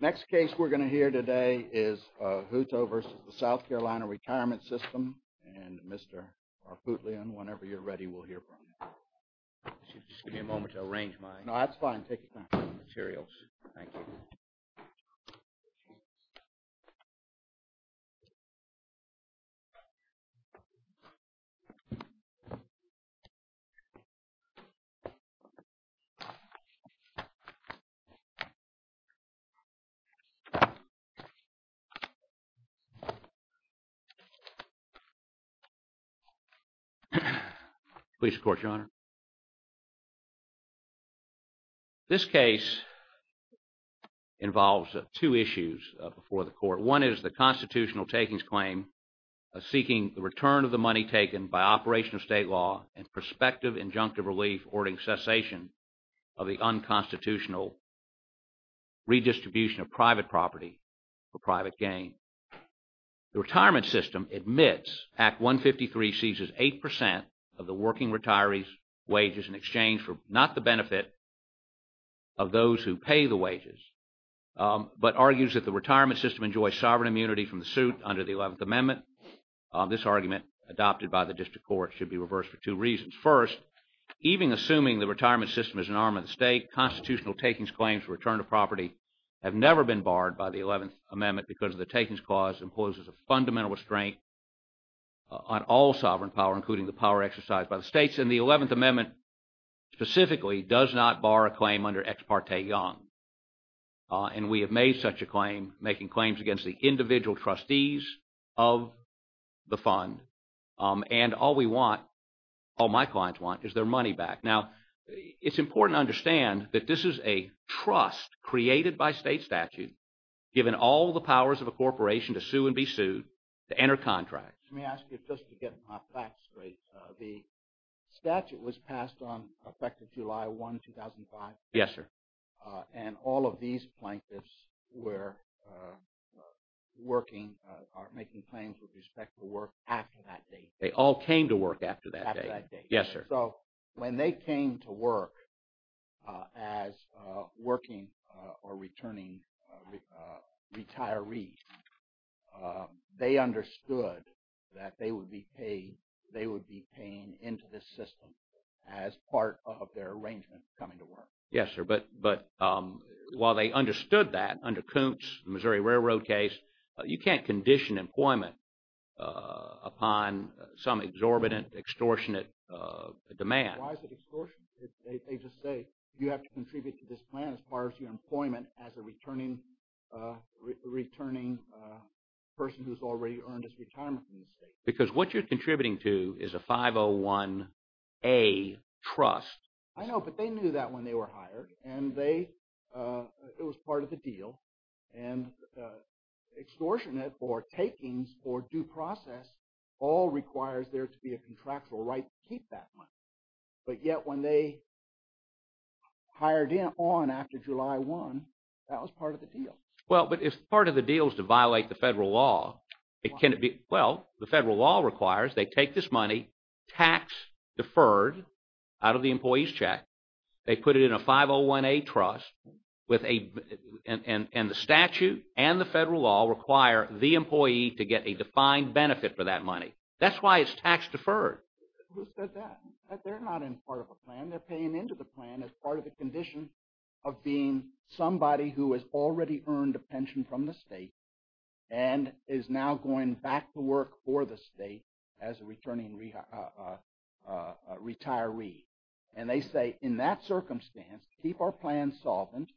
Next case we're going to hear today is Hutto v. SC Retirement System and Mr. Arputian, whenever you're ready, we'll hear from you. Just give me a moment to arrange my... No, that's fine. Take your time. ...materials. Thank you. Please support your honor. This case involves two issues before the court. One is the constitutional takings claim seeking the return of the money taken by operation of state law and prospective injunctive relief ordering cessation of the unconstitutional redistribution of private property for private gain. The retirement system admits Act 153 seizes 8% of the working retirees' wages in exchange for not the benefit of those who pay the wages, but argues that the retirement system enjoys sovereign immunity from the suit under the 11th Amendment. This argument adopted by the district court should be reversed for two reasons. First, even assuming the retirement system is an arm of the state, constitutional takings claims for return of property have never been barred by the 11th Amendment because the takings clause imposes a fundamental restraint on all sovereign power, including the power exercised by the states. And the 11th Amendment specifically does not bar a claim under Ex Parte Young. And we have made such a claim, making claims against the individual trustees of the fund. And all we want, all my clients want, is their money back. Now, it's important to understand that this is a trust created by state statute given all the powers of a corporation to sue and be sued, to enter contracts. Let me ask you just to get my facts straight. The statute was passed on effective July 1, 2005. Yes, sir. And all of these plaintiffs were working or making claims with respect to work after that date. They all came to work after that date. After that date. Yes, sir. So when they came to work as working or returning retirees, they understood that they would be paid, they would be paying into the system as part of their arrangement coming to work. Yes, sir. But while they understood that, under Koontz, the Missouri Railroad case, you can't condition employment upon some exorbitant, extortionate demand. Why is it extortionate? They just say you have to contribute to this plan as part of your employment as a returning person who's already earned his retirement from the state. Because what you're contributing to is a 501A trust. I know, but they knew that when they were hired, and they – it was part of the deal. And extortionate or takings or due process all requires there to be a contractual right to keep that money. But yet when they hired in on after July 1, that was part of the deal. Well, but if part of the deal is to violate the federal law, it can't be – Well, the federal law requires they take this money, tax-deferred out of the employee's check. They put it in a 501A trust with a – and the statute and the federal law require the employee to get a defined benefit for that money. That's why it's tax-deferred. Who said that? They're not in part of a plan. They're paying into the plan as part of the condition of being somebody who has already earned a pension from the state and is now going back to work for the state as a returning retiree. And they say, in that circumstance, keep our plan solvent.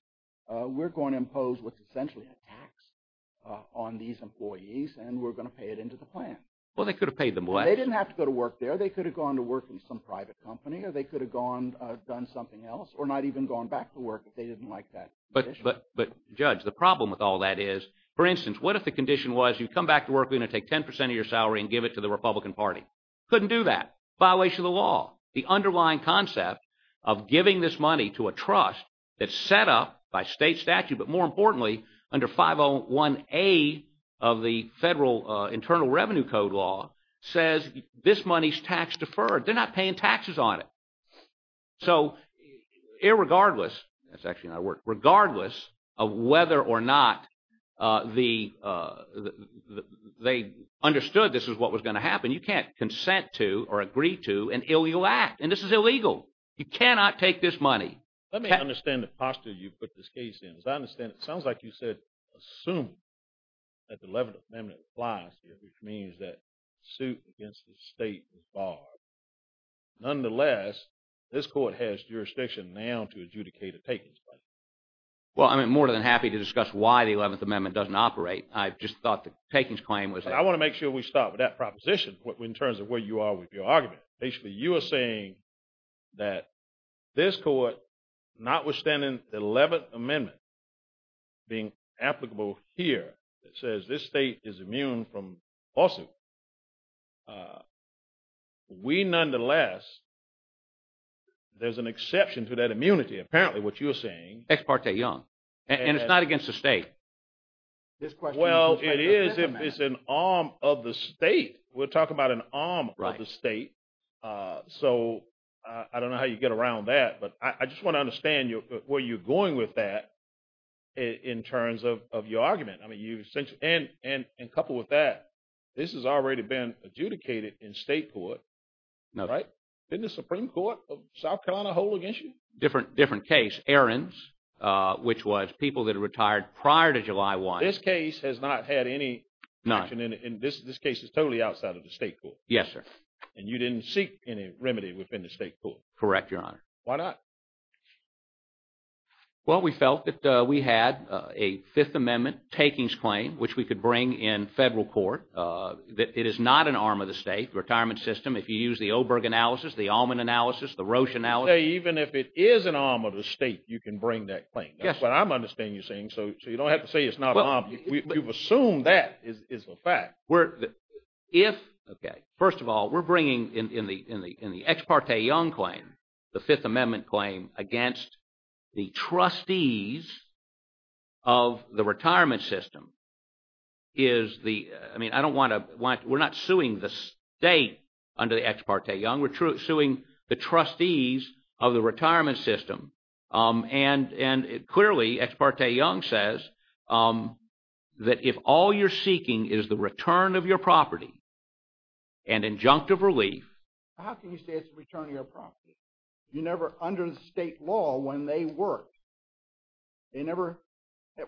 We're going to impose what's essentially a tax on these employees, and we're going to pay it into the plan. Well, they could have paid them less. They didn't have to go to work there. They could have gone to work in some private company, or they could have gone – done something else, or not even gone back to work if they didn't like that condition. But, Judge, the problem with all that is, for instance, what if the condition was you come back to work, we're going to take 10 percent of your salary and give it to the Republican Party? Couldn't do that. Violation of the law. The underlying concept of giving this money to a trust that's set up by state statute, but more importantly, under 501A of the federal Internal Revenue Code law, says this money's tax-deferred. They're not paying taxes on it. So, irregardless – that's actually not a word – regardless of whether or not they understood this was what was going to happen, you can't consent to or agree to an illegal act, and this is illegal. You cannot take this money. Let me understand the posture you put this case in. As I understand it, it sounds like you said assume that the 11th Amendment applies here, which means that suit against the state is barred. Nonetheless, this court has jurisdiction now to adjudicate a takings claim. Well, I'm more than happy to discuss why the 11th Amendment doesn't operate. I just thought the takings claim was – I want to make sure we start with that proposition in terms of where you are with your argument. Basically, you are saying that this court, notwithstanding the 11th Amendment being applicable here, says this state is immune from lawsuit. We, nonetheless, there's an exception to that immunity, apparently, what you're saying. Ex parte, young, and it's not against the state. Well, it is. It's an arm of the state. We're talking about an arm of the state. So I don't know how you get around that, but I just want to understand where you're going with that in terms of your argument. I mean, you – and coupled with that, this has already been adjudicated in state court, right? Didn't the Supreme Court of South Carolina hold it against you? Different case, Ahrens, which was people that retired prior to July 1. This case has not had any – None. This case is totally outside of the state court. Yes, sir. And you didn't seek any remedy within the state court. Correct, Your Honor. Why not? Well, we felt that we had a Fifth Amendment takings claim, which we could bring in federal court. It is not an arm of the state. The retirement system, if you use the Oberg analysis, the Allman analysis, the Roche analysis – Even if it is an arm of the state, you can bring that claim. Yes. That's what I'm understanding you're saying. So you don't have to say it's not an arm. You've assumed that is a fact. First of all, we're bringing in the Ex parte Young claim, the Fifth Amendment claim, against the trustees of the retirement system. Is the – I mean, I don't want to – we're not suing the state under the Ex parte Young. We're suing the trustees of the retirement system. And clearly, Ex parte Young says that if all you're seeking is the return of your property and injunctive relief – How can you say it's a return of your property? You never – under the state law, when they worked, they never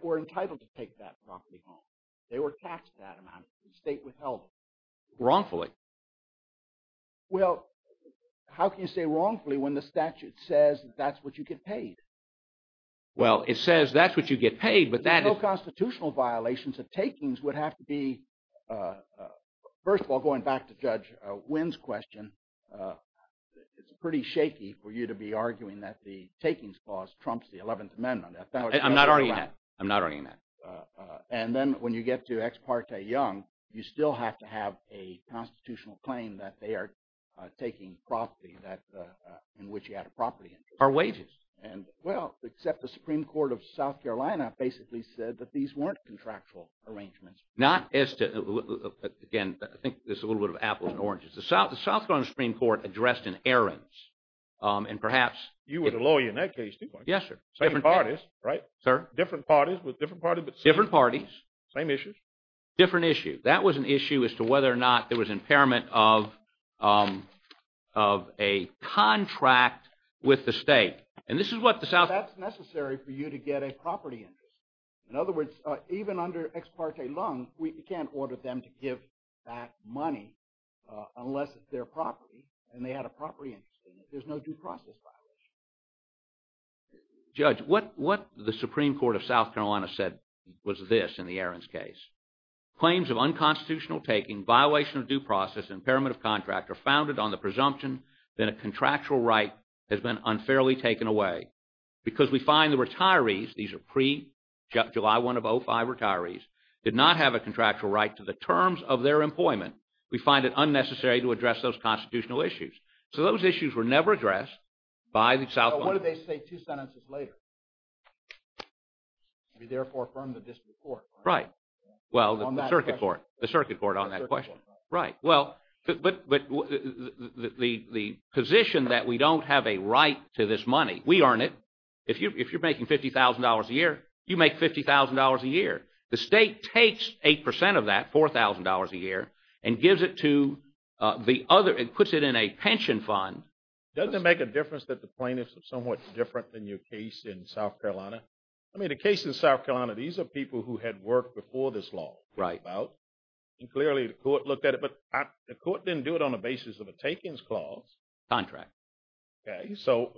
were entitled to take that property home. They were taxed that amount. The state withheld it. Wrongfully. Well, how can you say wrongfully when the statute says that's what you get paid? Well, it says that's what you get paid, but that is – No constitutional violations of takings would have to be – first of all, going back to Judge Wynn's question, it's pretty shaky for you to be arguing that the takings clause trumps the Eleventh Amendment. I'm not arguing that. I'm not arguing that. And then when you get to Ex parte Young, you still have to have a constitutional claim that they are taking property that – in which you had a property interest. Or wages. Well, except the Supreme Court of South Carolina basically said that these weren't contractual arrangements. Not as to – again, I think there's a little bit of apples and oranges. The South Carolina Supreme Court addressed an errand, and perhaps – You were the lawyer in that case too, weren't you? Yes, sir. Different parties, right? Sir? Different parties, but – Different parties. Same issues. Different issues. That was an issue as to whether or not there was impairment of a contract with the state. And this is what the South – That's necessary for you to get a property interest. In other words, even under Ex parte Young, we can't order them to give that money unless it's their property, and they had a property interest in it. There's no due process violation. Judge, what the Supreme Court of South Carolina said was this in the errands case. Claims of unconstitutional taking, violation of due process, impairment of contract are founded on the presumption that a contractual right has been unfairly taken away. Because we find the retirees – these are pre-July 1 of 2005 retirees – did not have a contractual right to the terms of their employment. We find it unnecessary to address those constitutional issues. So those issues were never addressed by the South Carolina – But what did they say two sentences later? We therefore affirm the district court. Right. Well, the circuit court. The circuit court on that question. The circuit court, right. Right. Well, but the position that we don't have a right to this money – we earn it. The state takes 8 percent of that, $4,000 a year, and gives it to the other – it puts it in a pension fund. Doesn't it make a difference that the plaintiffs are somewhat different than your case in South Carolina? I mean, the case in South Carolina, these are people who had worked before this law came about. Right. And clearly the court looked at it, but the court didn't do it on the basis of a takings clause. Contract. Okay. So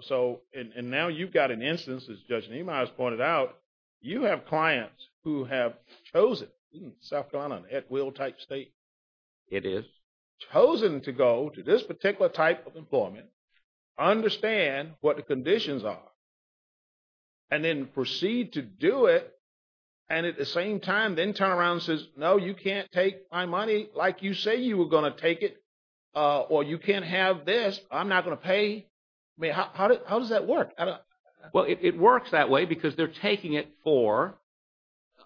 – and now you've got an instance, as Judge Neimeyer has pointed out, you have clients who have chosen – isn't South Carolina an at-will type state? It is. Chosen to go to this particular type of employment, understand what the conditions are, and then proceed to do it, and at the same time then turn around and says, no, you can't take my money like you say you were going to take it, or you can't have this, I'm not going to pay. I mean, how does that work? Well, it works that way because they're taking it for –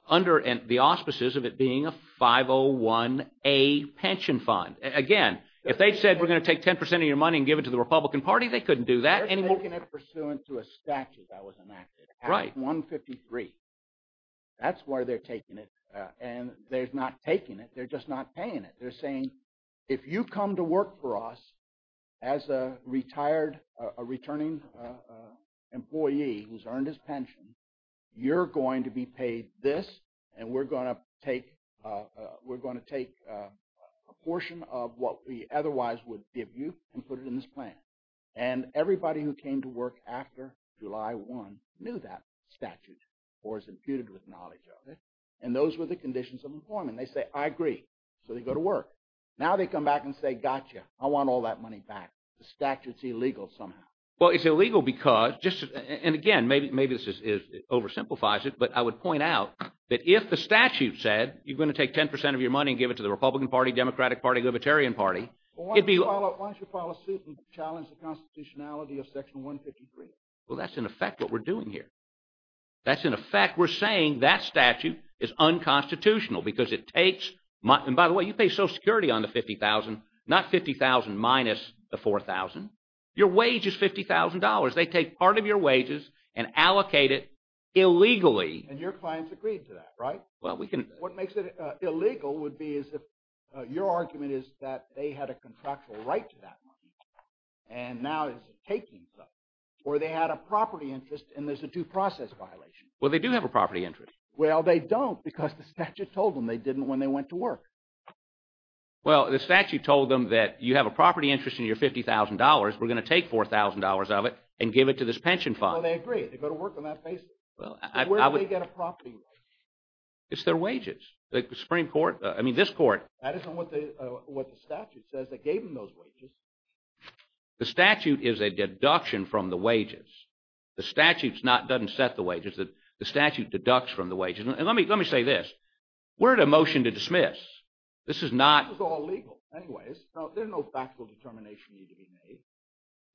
under the auspices of it being a 501A pension fund. Again, if they said we're going to take 10 percent of your money and give it to the Republican Party, they couldn't do that anymore. They're taking it pursuant to a statute that was enacted. Right. Act 153. That's where they're taking it. And they're not taking it, they're just not paying it. They're saying, if you come to work for us as a retired – a returning employee who's earned his pension, you're going to be paid this, and we're going to take a portion of what we otherwise would give you and put it in this plan. And everybody who came to work after July 1 knew that statute or is imputed with knowledge of it, and those were the conditions of employment. They say, I agree, so they go to work. Now they come back and say, gotcha, I want all that money back. The statute's illegal somehow. Well, it's illegal because – and again, maybe this oversimplifies it, but I would point out that if the statute said you're going to take 10 percent of your money and give it to the Republican Party, Democratic Party, Libertarian Party, it'd be – Why don't you file a suit and challenge the constitutionality of Section 153? Well, that's in effect what we're doing here. That's in effect – we're saying that statute is unconstitutional because it takes – and by the way, you pay Social Security on the $50,000, not $50,000 minus the $4,000. Your wage is $50,000. They take part of your wages and allocate it illegally. And your clients agreed to that, right? Well, we can – What makes it illegal would be as if your argument is that they had a contractual right to that money, and now it's taking stuff, or they had a property interest and there's a due process violation. Well, they do have a property interest. Well, they don't because the statute told them they didn't when they went to work. Well, the statute told them that you have a property interest in your $50,000. We're going to take $4,000 of it and give it to this pension fund. Well, they agree. They go to work on that basis. Where do they get a property right? It's their wages. The Supreme Court – I mean this court – That isn't what the statute says. They gave them those wages. The statute is a deduction from the wages. The statute doesn't set the wages. The statute deducts from the wages. And let me say this. We're at a motion to dismiss. This is not – This is all legal. Anyways, there's no factual determination you can make.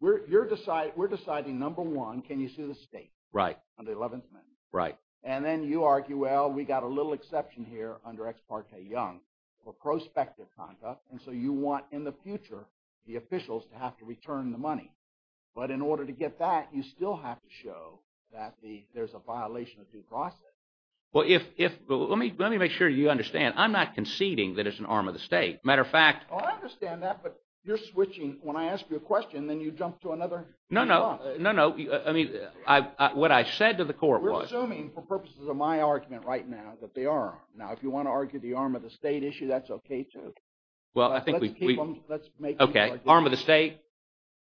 We're deciding, number one, can you sue the state on the 11th Amendment? Right. And then you argue, well, we got a little exception here under Ex parte Young for prospective conduct, and so you want in the future the officials to have to return the money. But in order to get that, you still have to show that there's a violation of due process. Well, let me make sure you understand. I'm not conceding that it's an arm of the state. Matter of fact – I understand that, but you're switching. When I ask you a question, then you jump to another – No, no. No, no. I mean what I said to the court was – You're assuming for purposes of my argument right now that they are. Now, if you want to argue the arm of the state issue, that's okay, too. Well, I think we – Let's make – Okay. Arm of the state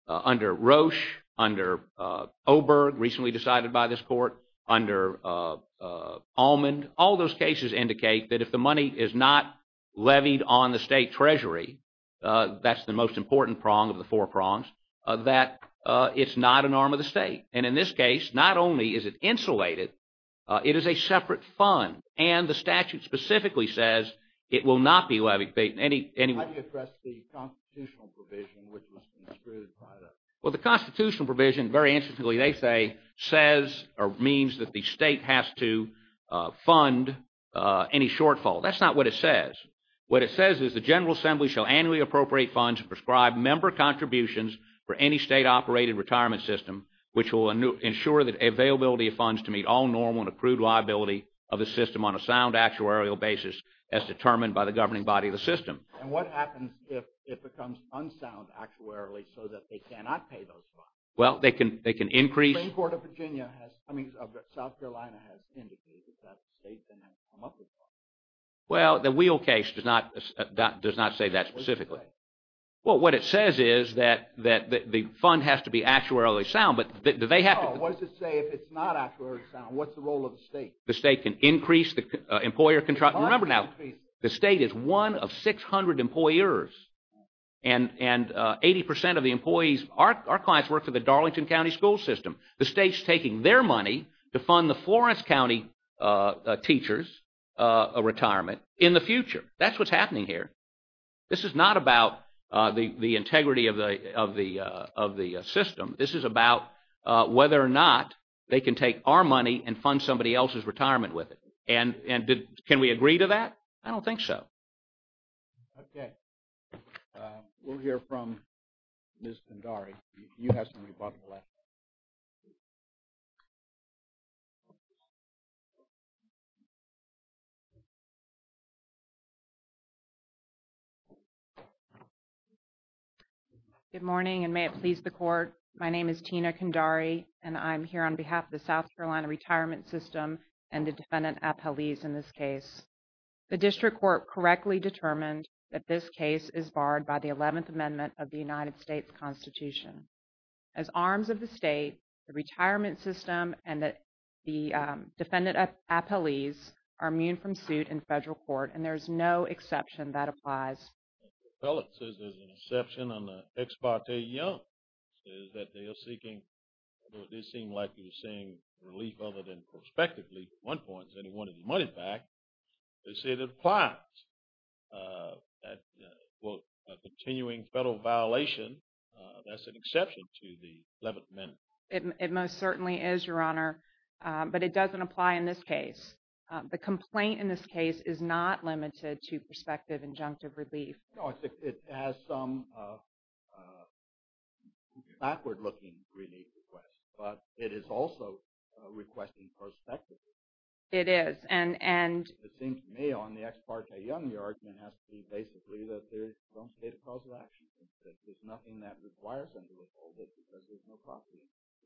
under Roche, under Oberg, recently decided by this court, under Allman, all those cases indicate that if the money is not levied on the state treasury, that's the most important prong of the four prongs, that it's not an arm of the state. And in this case, not only is it insulated, it is a separate fund. And the statute specifically says it will not be levied – How do you address the constitutional provision which was construed by the – Well, the constitutional provision, very interestingly they say, says or means that the state has to fund any shortfall. That's not what it says. What it says is the General Assembly shall annually appropriate funds and prescribe member contributions for any state-operated retirement system which will ensure the availability of funds to meet all normal and accrued liability of the system on a sound actuarial basis as determined by the governing body of the system. And what happens if it becomes unsound actuarially so that they cannot pay those funds? Well, they can increase – The Supreme Court of Virginia has – I mean, South Carolina has indicated that the state then has to come up with funds. Well, the Wheel case does not say that specifically. Well, what it says is that the fund has to be actuarially sound, but they have to – No, what does it say if it's not actuarially sound? What's the role of the state? The state can increase the employer – Remember now, the state is one of 600 employers, and 80% of the employees – our clients work for the Darlington County School System. The state's taking their money to fund the Florence County teachers' retirement in the future. That's what's happening here. This is not about the integrity of the system. This is about whether or not they can take our money and fund somebody else's retirement with it. And can we agree to that? I don't think so. Okay. We'll hear from Ms. Kandari. You have something to talk about. Ms. Kandari. Good morning, and may it please the Court. My name is Tina Kandari, and I'm here on behalf of the South Carolina Retirement System and the Defendant Appellees in this case. The District Court correctly determined that this case is barred by the 11th Amendment of the United States Constitution. As arms of the state, the Retirement System and the Defendant Appellees are immune from suit in federal court, and there is no exception that applies. Well, it says there's an exception on the Ex parte Young. It says that they are seeking – although it did seem like they were seeking relief other than prospective relief at one point, because they wanted the money back – they say it applies. Well, a continuing federal violation, that's an exception to the 11th Amendment. It most certainly is, Your Honor, but it doesn't apply in this case. The complaint in this case is not limited to prospective injunctive relief. No, it has some backward-looking relief requests, but it is also requesting prospective relief. It is, and – It seems to me, on the Ex parte Young, your argument has to be basically that there's some state of cause of action, that there's nothing that requires them to withhold it because there's no property.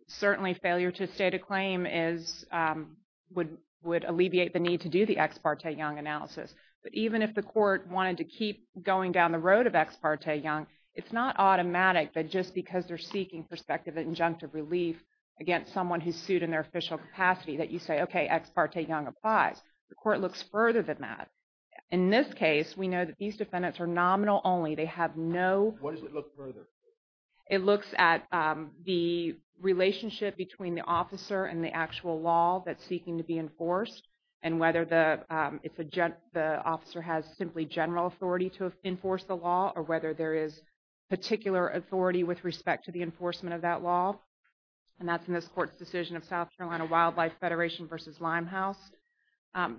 Certainly, failure to state a claim would alleviate the need to do the Ex parte Young analysis. But even if the court wanted to keep going down the road of Ex parte Young, it's not automatic that just because they're seeking prospective injunctive relief against someone who's sued in their official capacity that you say, okay, Ex parte Young applies. The court looks further than that. In this case, we know that these defendants are nominal only. They have no – What does it look further? It looks at the relationship between the officer and the actual law that's seeking to be enforced and whether the officer has simply general authority to enforce the law or whether there is particular authority with respect to the enforcement of that law. And that's in this court's decision of South Carolina Wildlife Federation v. Limehouse.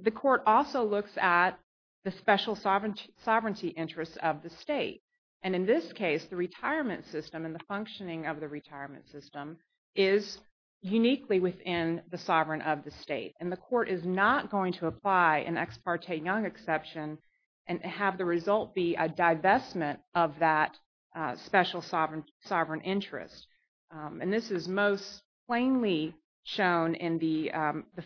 The court also looks at the special sovereignty interests of the state. And in this case, the retirement system and the functioning of the retirement system is uniquely within the sovereign of the state. And the court is not going to apply an Ex parte Young exception and have the result be a divestment of that special sovereign interest. And this is most plainly shown in the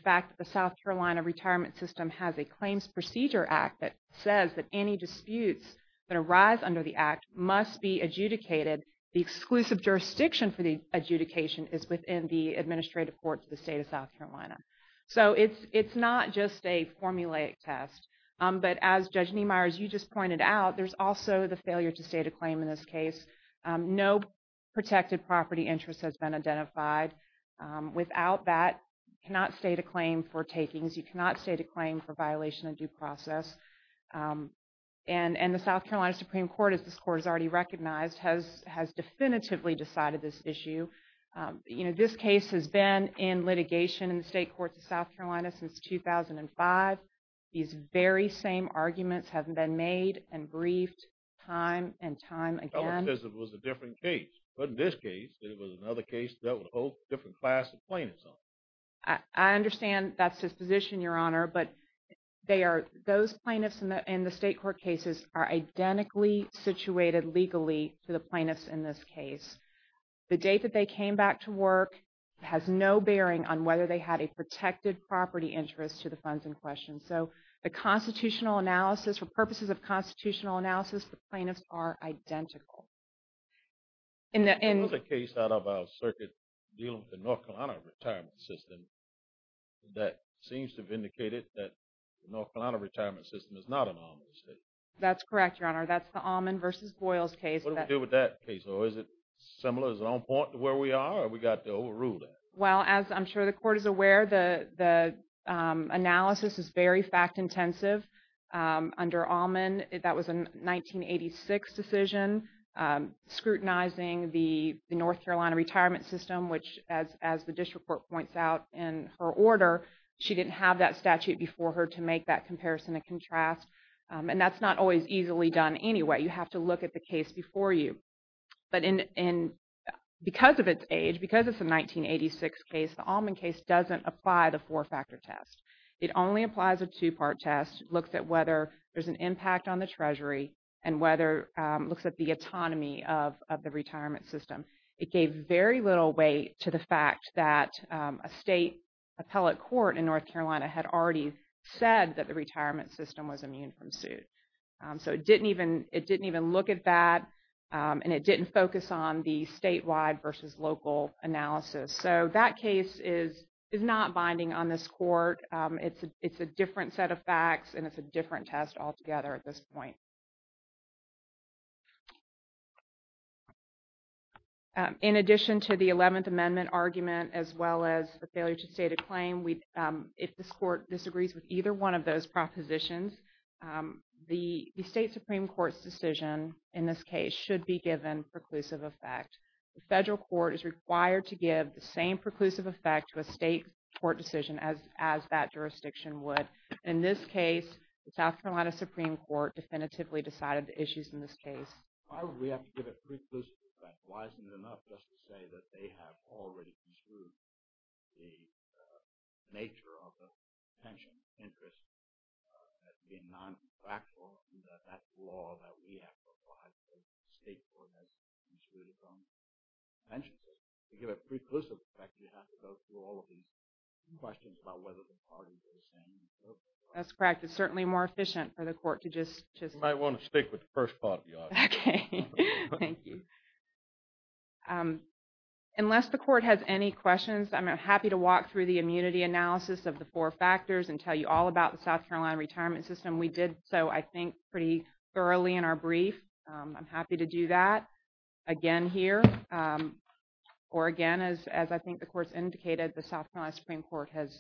fact that the South Carolina retirement system has a claims procedure act that says that any disputes that arise under the act must be adjudicated. The exclusive jurisdiction for the adjudication is within the administrative courts of the state of South Carolina. So it's not just a formulaic test. But as Judge Niemeyer, as you just pointed out, there's also the failure to state a claim in this case. No protected property interest has been identified. Without that, you cannot state a claim for takings. You cannot state a claim for violation of due process. And the South Carolina Supreme Court, as this court has already recognized, has definitively decided this issue. This case has been in litigation in the state courts of South Carolina since 2005. These very same arguments have been made and briefed time and time again. Well, because it was a different case. But in this case, it was another case that would hold a different class of plaintiffs on it. I understand that's his position, Your Honor. But those plaintiffs in the state court cases are identically situated legally to the plaintiffs in this case. The date that they came back to work has no bearing on whether they had a protected property interest to the funds in question. So the constitutional analysis, for purposes of constitutional analysis, the plaintiffs are identical. There was a case out of our circuit dealing with the North Carolina retirement system that seems to have indicated that the North Carolina retirement system is not an almond state. That's correct, Your Honor. That's the almond versus Boyle's case. What do we do with that case? Or is it similar? Is it on point to where we are? Or have we got to overrule that? Well, as I'm sure the Court is aware, the analysis is very fact-intensive under Allman. That was a 1986 decision scrutinizing the North Carolina retirement system, which, as the district court points out in her order, she didn't have that statute before her to make that comparison and contrast. And that's not always easily done anyway. You have to look at the case before you. But because of its age, because it's a 1986 case, the Allman case doesn't apply the four-factor test. It only applies a two-part test, looks at whether there's an impact on the Treasury and looks at the autonomy of the retirement system. It gave very little weight to the fact that a state appellate court in North Carolina had already said that the retirement system was immune from suit. So it didn't even look at that, and it didn't focus on the statewide versus local analysis. So that case is not binding on this Court. It's a different set of facts, and it's a different test altogether at this point. In addition to the 11th Amendment argument as well as the failure to state a claim, if this Court disagrees with either one of those propositions, the state Supreme Court's decision in this case should be given preclusive effect. The federal court is required to give the same preclusive effect to a state court decision as that jurisdiction would. In this case, the South Carolina Supreme Court definitively decided the issues in this case. Why would we have to give it preclusive effect? Why isn't it enough just to say that they have already construed the nature of the pension interest as being non-factual and that that's the law that we have to abide by as the state court has construed its own pension system? To give it preclusive effect, you have to go through all of these questions about whether the parties are the same. That's correct. It's certainly more efficient for the Court to just... You might want to stick with the first part of the argument. Okay. Thank you. Unless the Court has any questions, I'm happy to walk through the immunity analysis of the four factors and tell you all about the South Carolina retirement system. We did so, I think, pretty thoroughly in our brief. I'm happy to do that again here or again, as I think the Court's indicated, the South Carolina Supreme Court has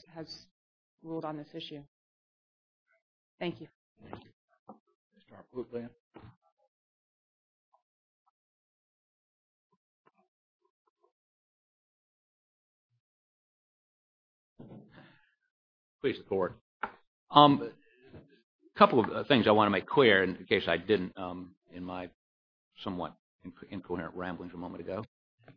ruled on this issue. Thank you. Please, the Court. A couple of things I want to make clear, in case I didn't in my somewhat incoherent ramblings a moment ago,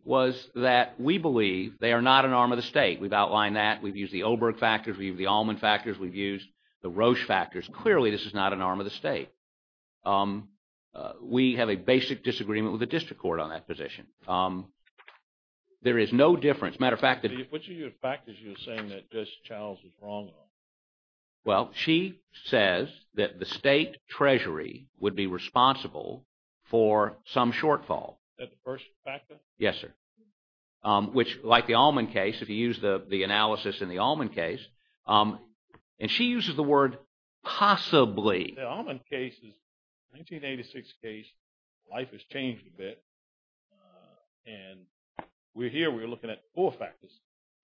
was that we believe they are not an arm of the state. We've outlined that. We've used the Olberg factors. We've used the Allman factors. We've used the Roche factors. Clearly, this is not an arm of the state. We have a basic disagreement with the district court on that position. There is no difference. As a matter of fact... Which of your factors are you saying that Judge Charles is wrong on? Well, she says that the state treasury would be responsible for some shortfall. Is that the first factor? Yes, sir. Which, like the Allman case, if you use the analysis in the Allman case, and she uses the word possibly. The Allman case is a 1986 case. Life has changed a bit. And we're here. We're looking at four factors.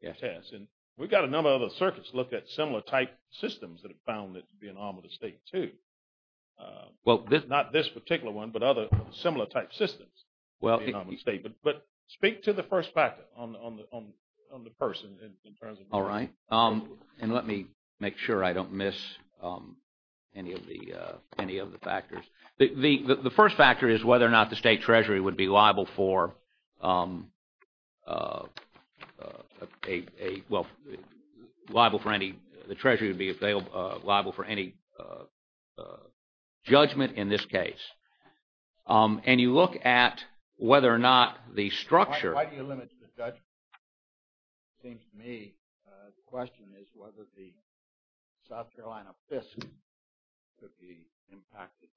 Yes. And we've got a number of other circuits that look at similar type systems that have found that to be an arm of the state, too. Well, this... Not this particular one, but other similar type systems. But speak to the first factor on the person in terms of... All right. And let me make sure I don't miss any of the factors. The first factor is whether or not the state treasury would be liable for any judgment in this case. And you look at whether or not the structure... Why do you limit the judgment? It seems to me the question is whether the South Carolina FISC could be impacted by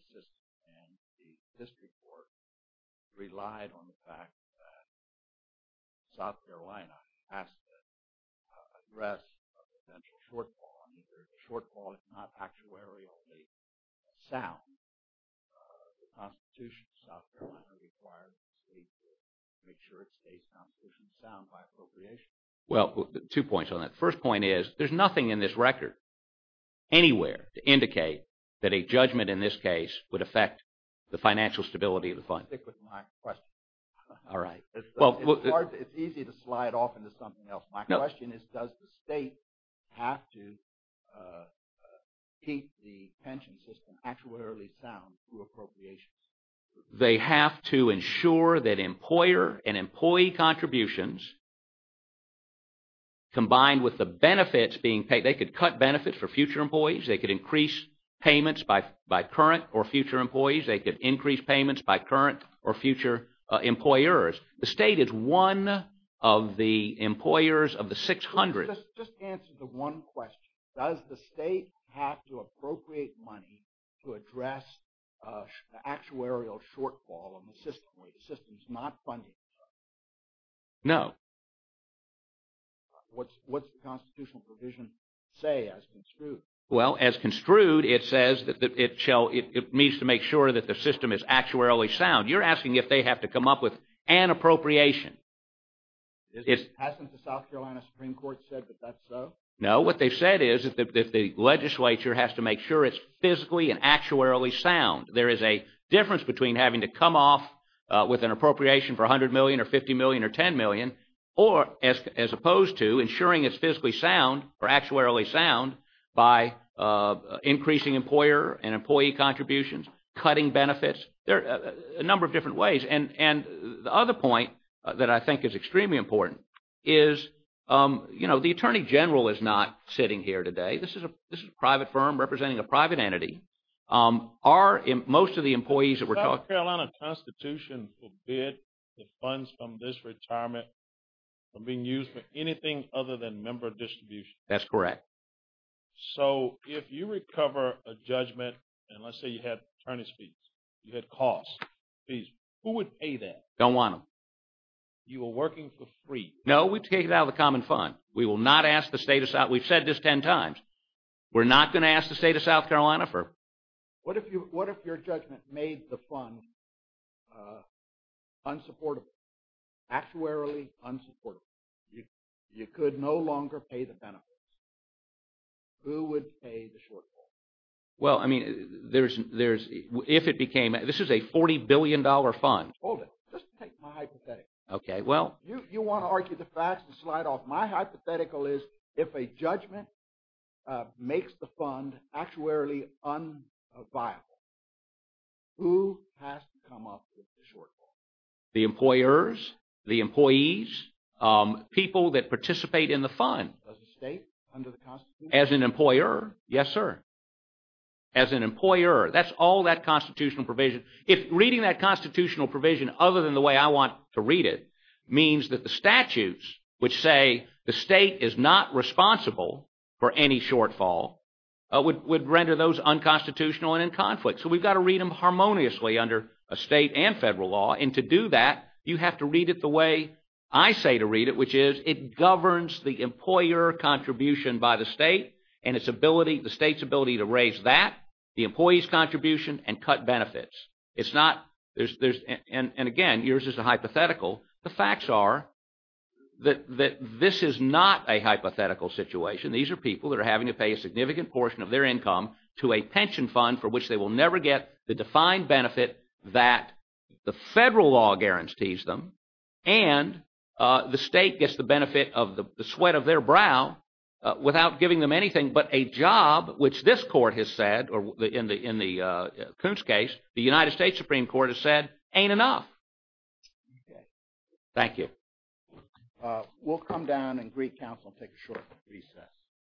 the system. And the district court relied on the fact that South Carolina has to address a potential shortfall. A shortfall is not factuarially sound. The Constitution of South Carolina requires the state to make sure it stays constitutionally sound by appropriation. Well, two points on that. The first point is there's nothing in this record anywhere to indicate that a judgment in this case would affect the financial stability of the fund. Stick with my question. All right. It's easy to slide off into something else. My question is does the state have to keep the pension system actuarially sound through appropriations? They have to ensure that employer and employee contributions combined with the benefits being paid... They could cut benefits for future employees. They could increase payments by current or future employees. They could increase payments by current or future employers. The state is one of the employers of the 600. Just answer the one question. Does the state have to appropriate money to address the actuarial shortfall in the system where the system is not funded? No. What's the constitutional provision say as construed? Well, as construed, it says that it needs to make sure that the system is actuarially sound. You're asking if they have to come up with an appropriation. Hasn't the South Carolina Supreme Court said that that's so? No. What they've said is that the legislature has to make sure it's physically and actuarially sound. There is a difference between having to come off with an appropriation for $100 million or $50 million or $10 million as opposed to ensuring it's physically sound or actuarially sound by increasing employer and employee contributions, cutting benefits. There are a number of different ways. And the other point that I think is extremely important is, you know, the attorney general is not sitting here today. This is a private firm representing a private entity. Are most of the employees that we're talking about— Does the South Carolina Constitution forbid the funds from this retirement from being used for anything other than member distribution? That's correct. So if you recover a judgment, and let's say you had attorney's fees, you had costs, fees, who would pay that? Don't want them. You were working for free. No, we take it out of the common fund. We will not ask the state of—we've said this 10 times. We're not going to ask the state of South Carolina for— What if your judgment made the fund unsupportable, actuarially unsupportable? You could no longer pay the benefits. Who would pay the shortfall? Well, I mean, there's—if it became—this is a $40 billion fund. Hold it. Just take my hypothetical. Okay, well— You want to argue the facts and slide off. My hypothetical is, if a judgment makes the fund actuarially unviable, who has to come up with the shortfall? The employers, the employees, people that participate in the fund. As a state, under the Constitution? As an employer. Yes, sir. As an employer. That's all that constitutional provision. If reading that constitutional provision other than the way I want to read it means that the statutes which say the state is not responsible for any shortfall would render those unconstitutional and in conflict. So we've got to read them harmoniously under a state and federal law. And to do that, you have to read it the way I say to read it, which is it governs the employer contribution by the state and the state's ability to raise that, the employee's contribution, and cut benefits. It's not—and again, yours is a hypothetical. The facts are that this is not a hypothetical situation. These are people that are having to pay a significant portion of their income to a pension fund for which they will never get the defined benefit that the federal law guarantees them. And the state gets the benefit of the sweat of their brow without giving them anything but a job, which this court has said, or in the Coons case, the United States Supreme Court has said, ain't enough. Okay. Thank you. We'll come down and greet counsel and take a short recess.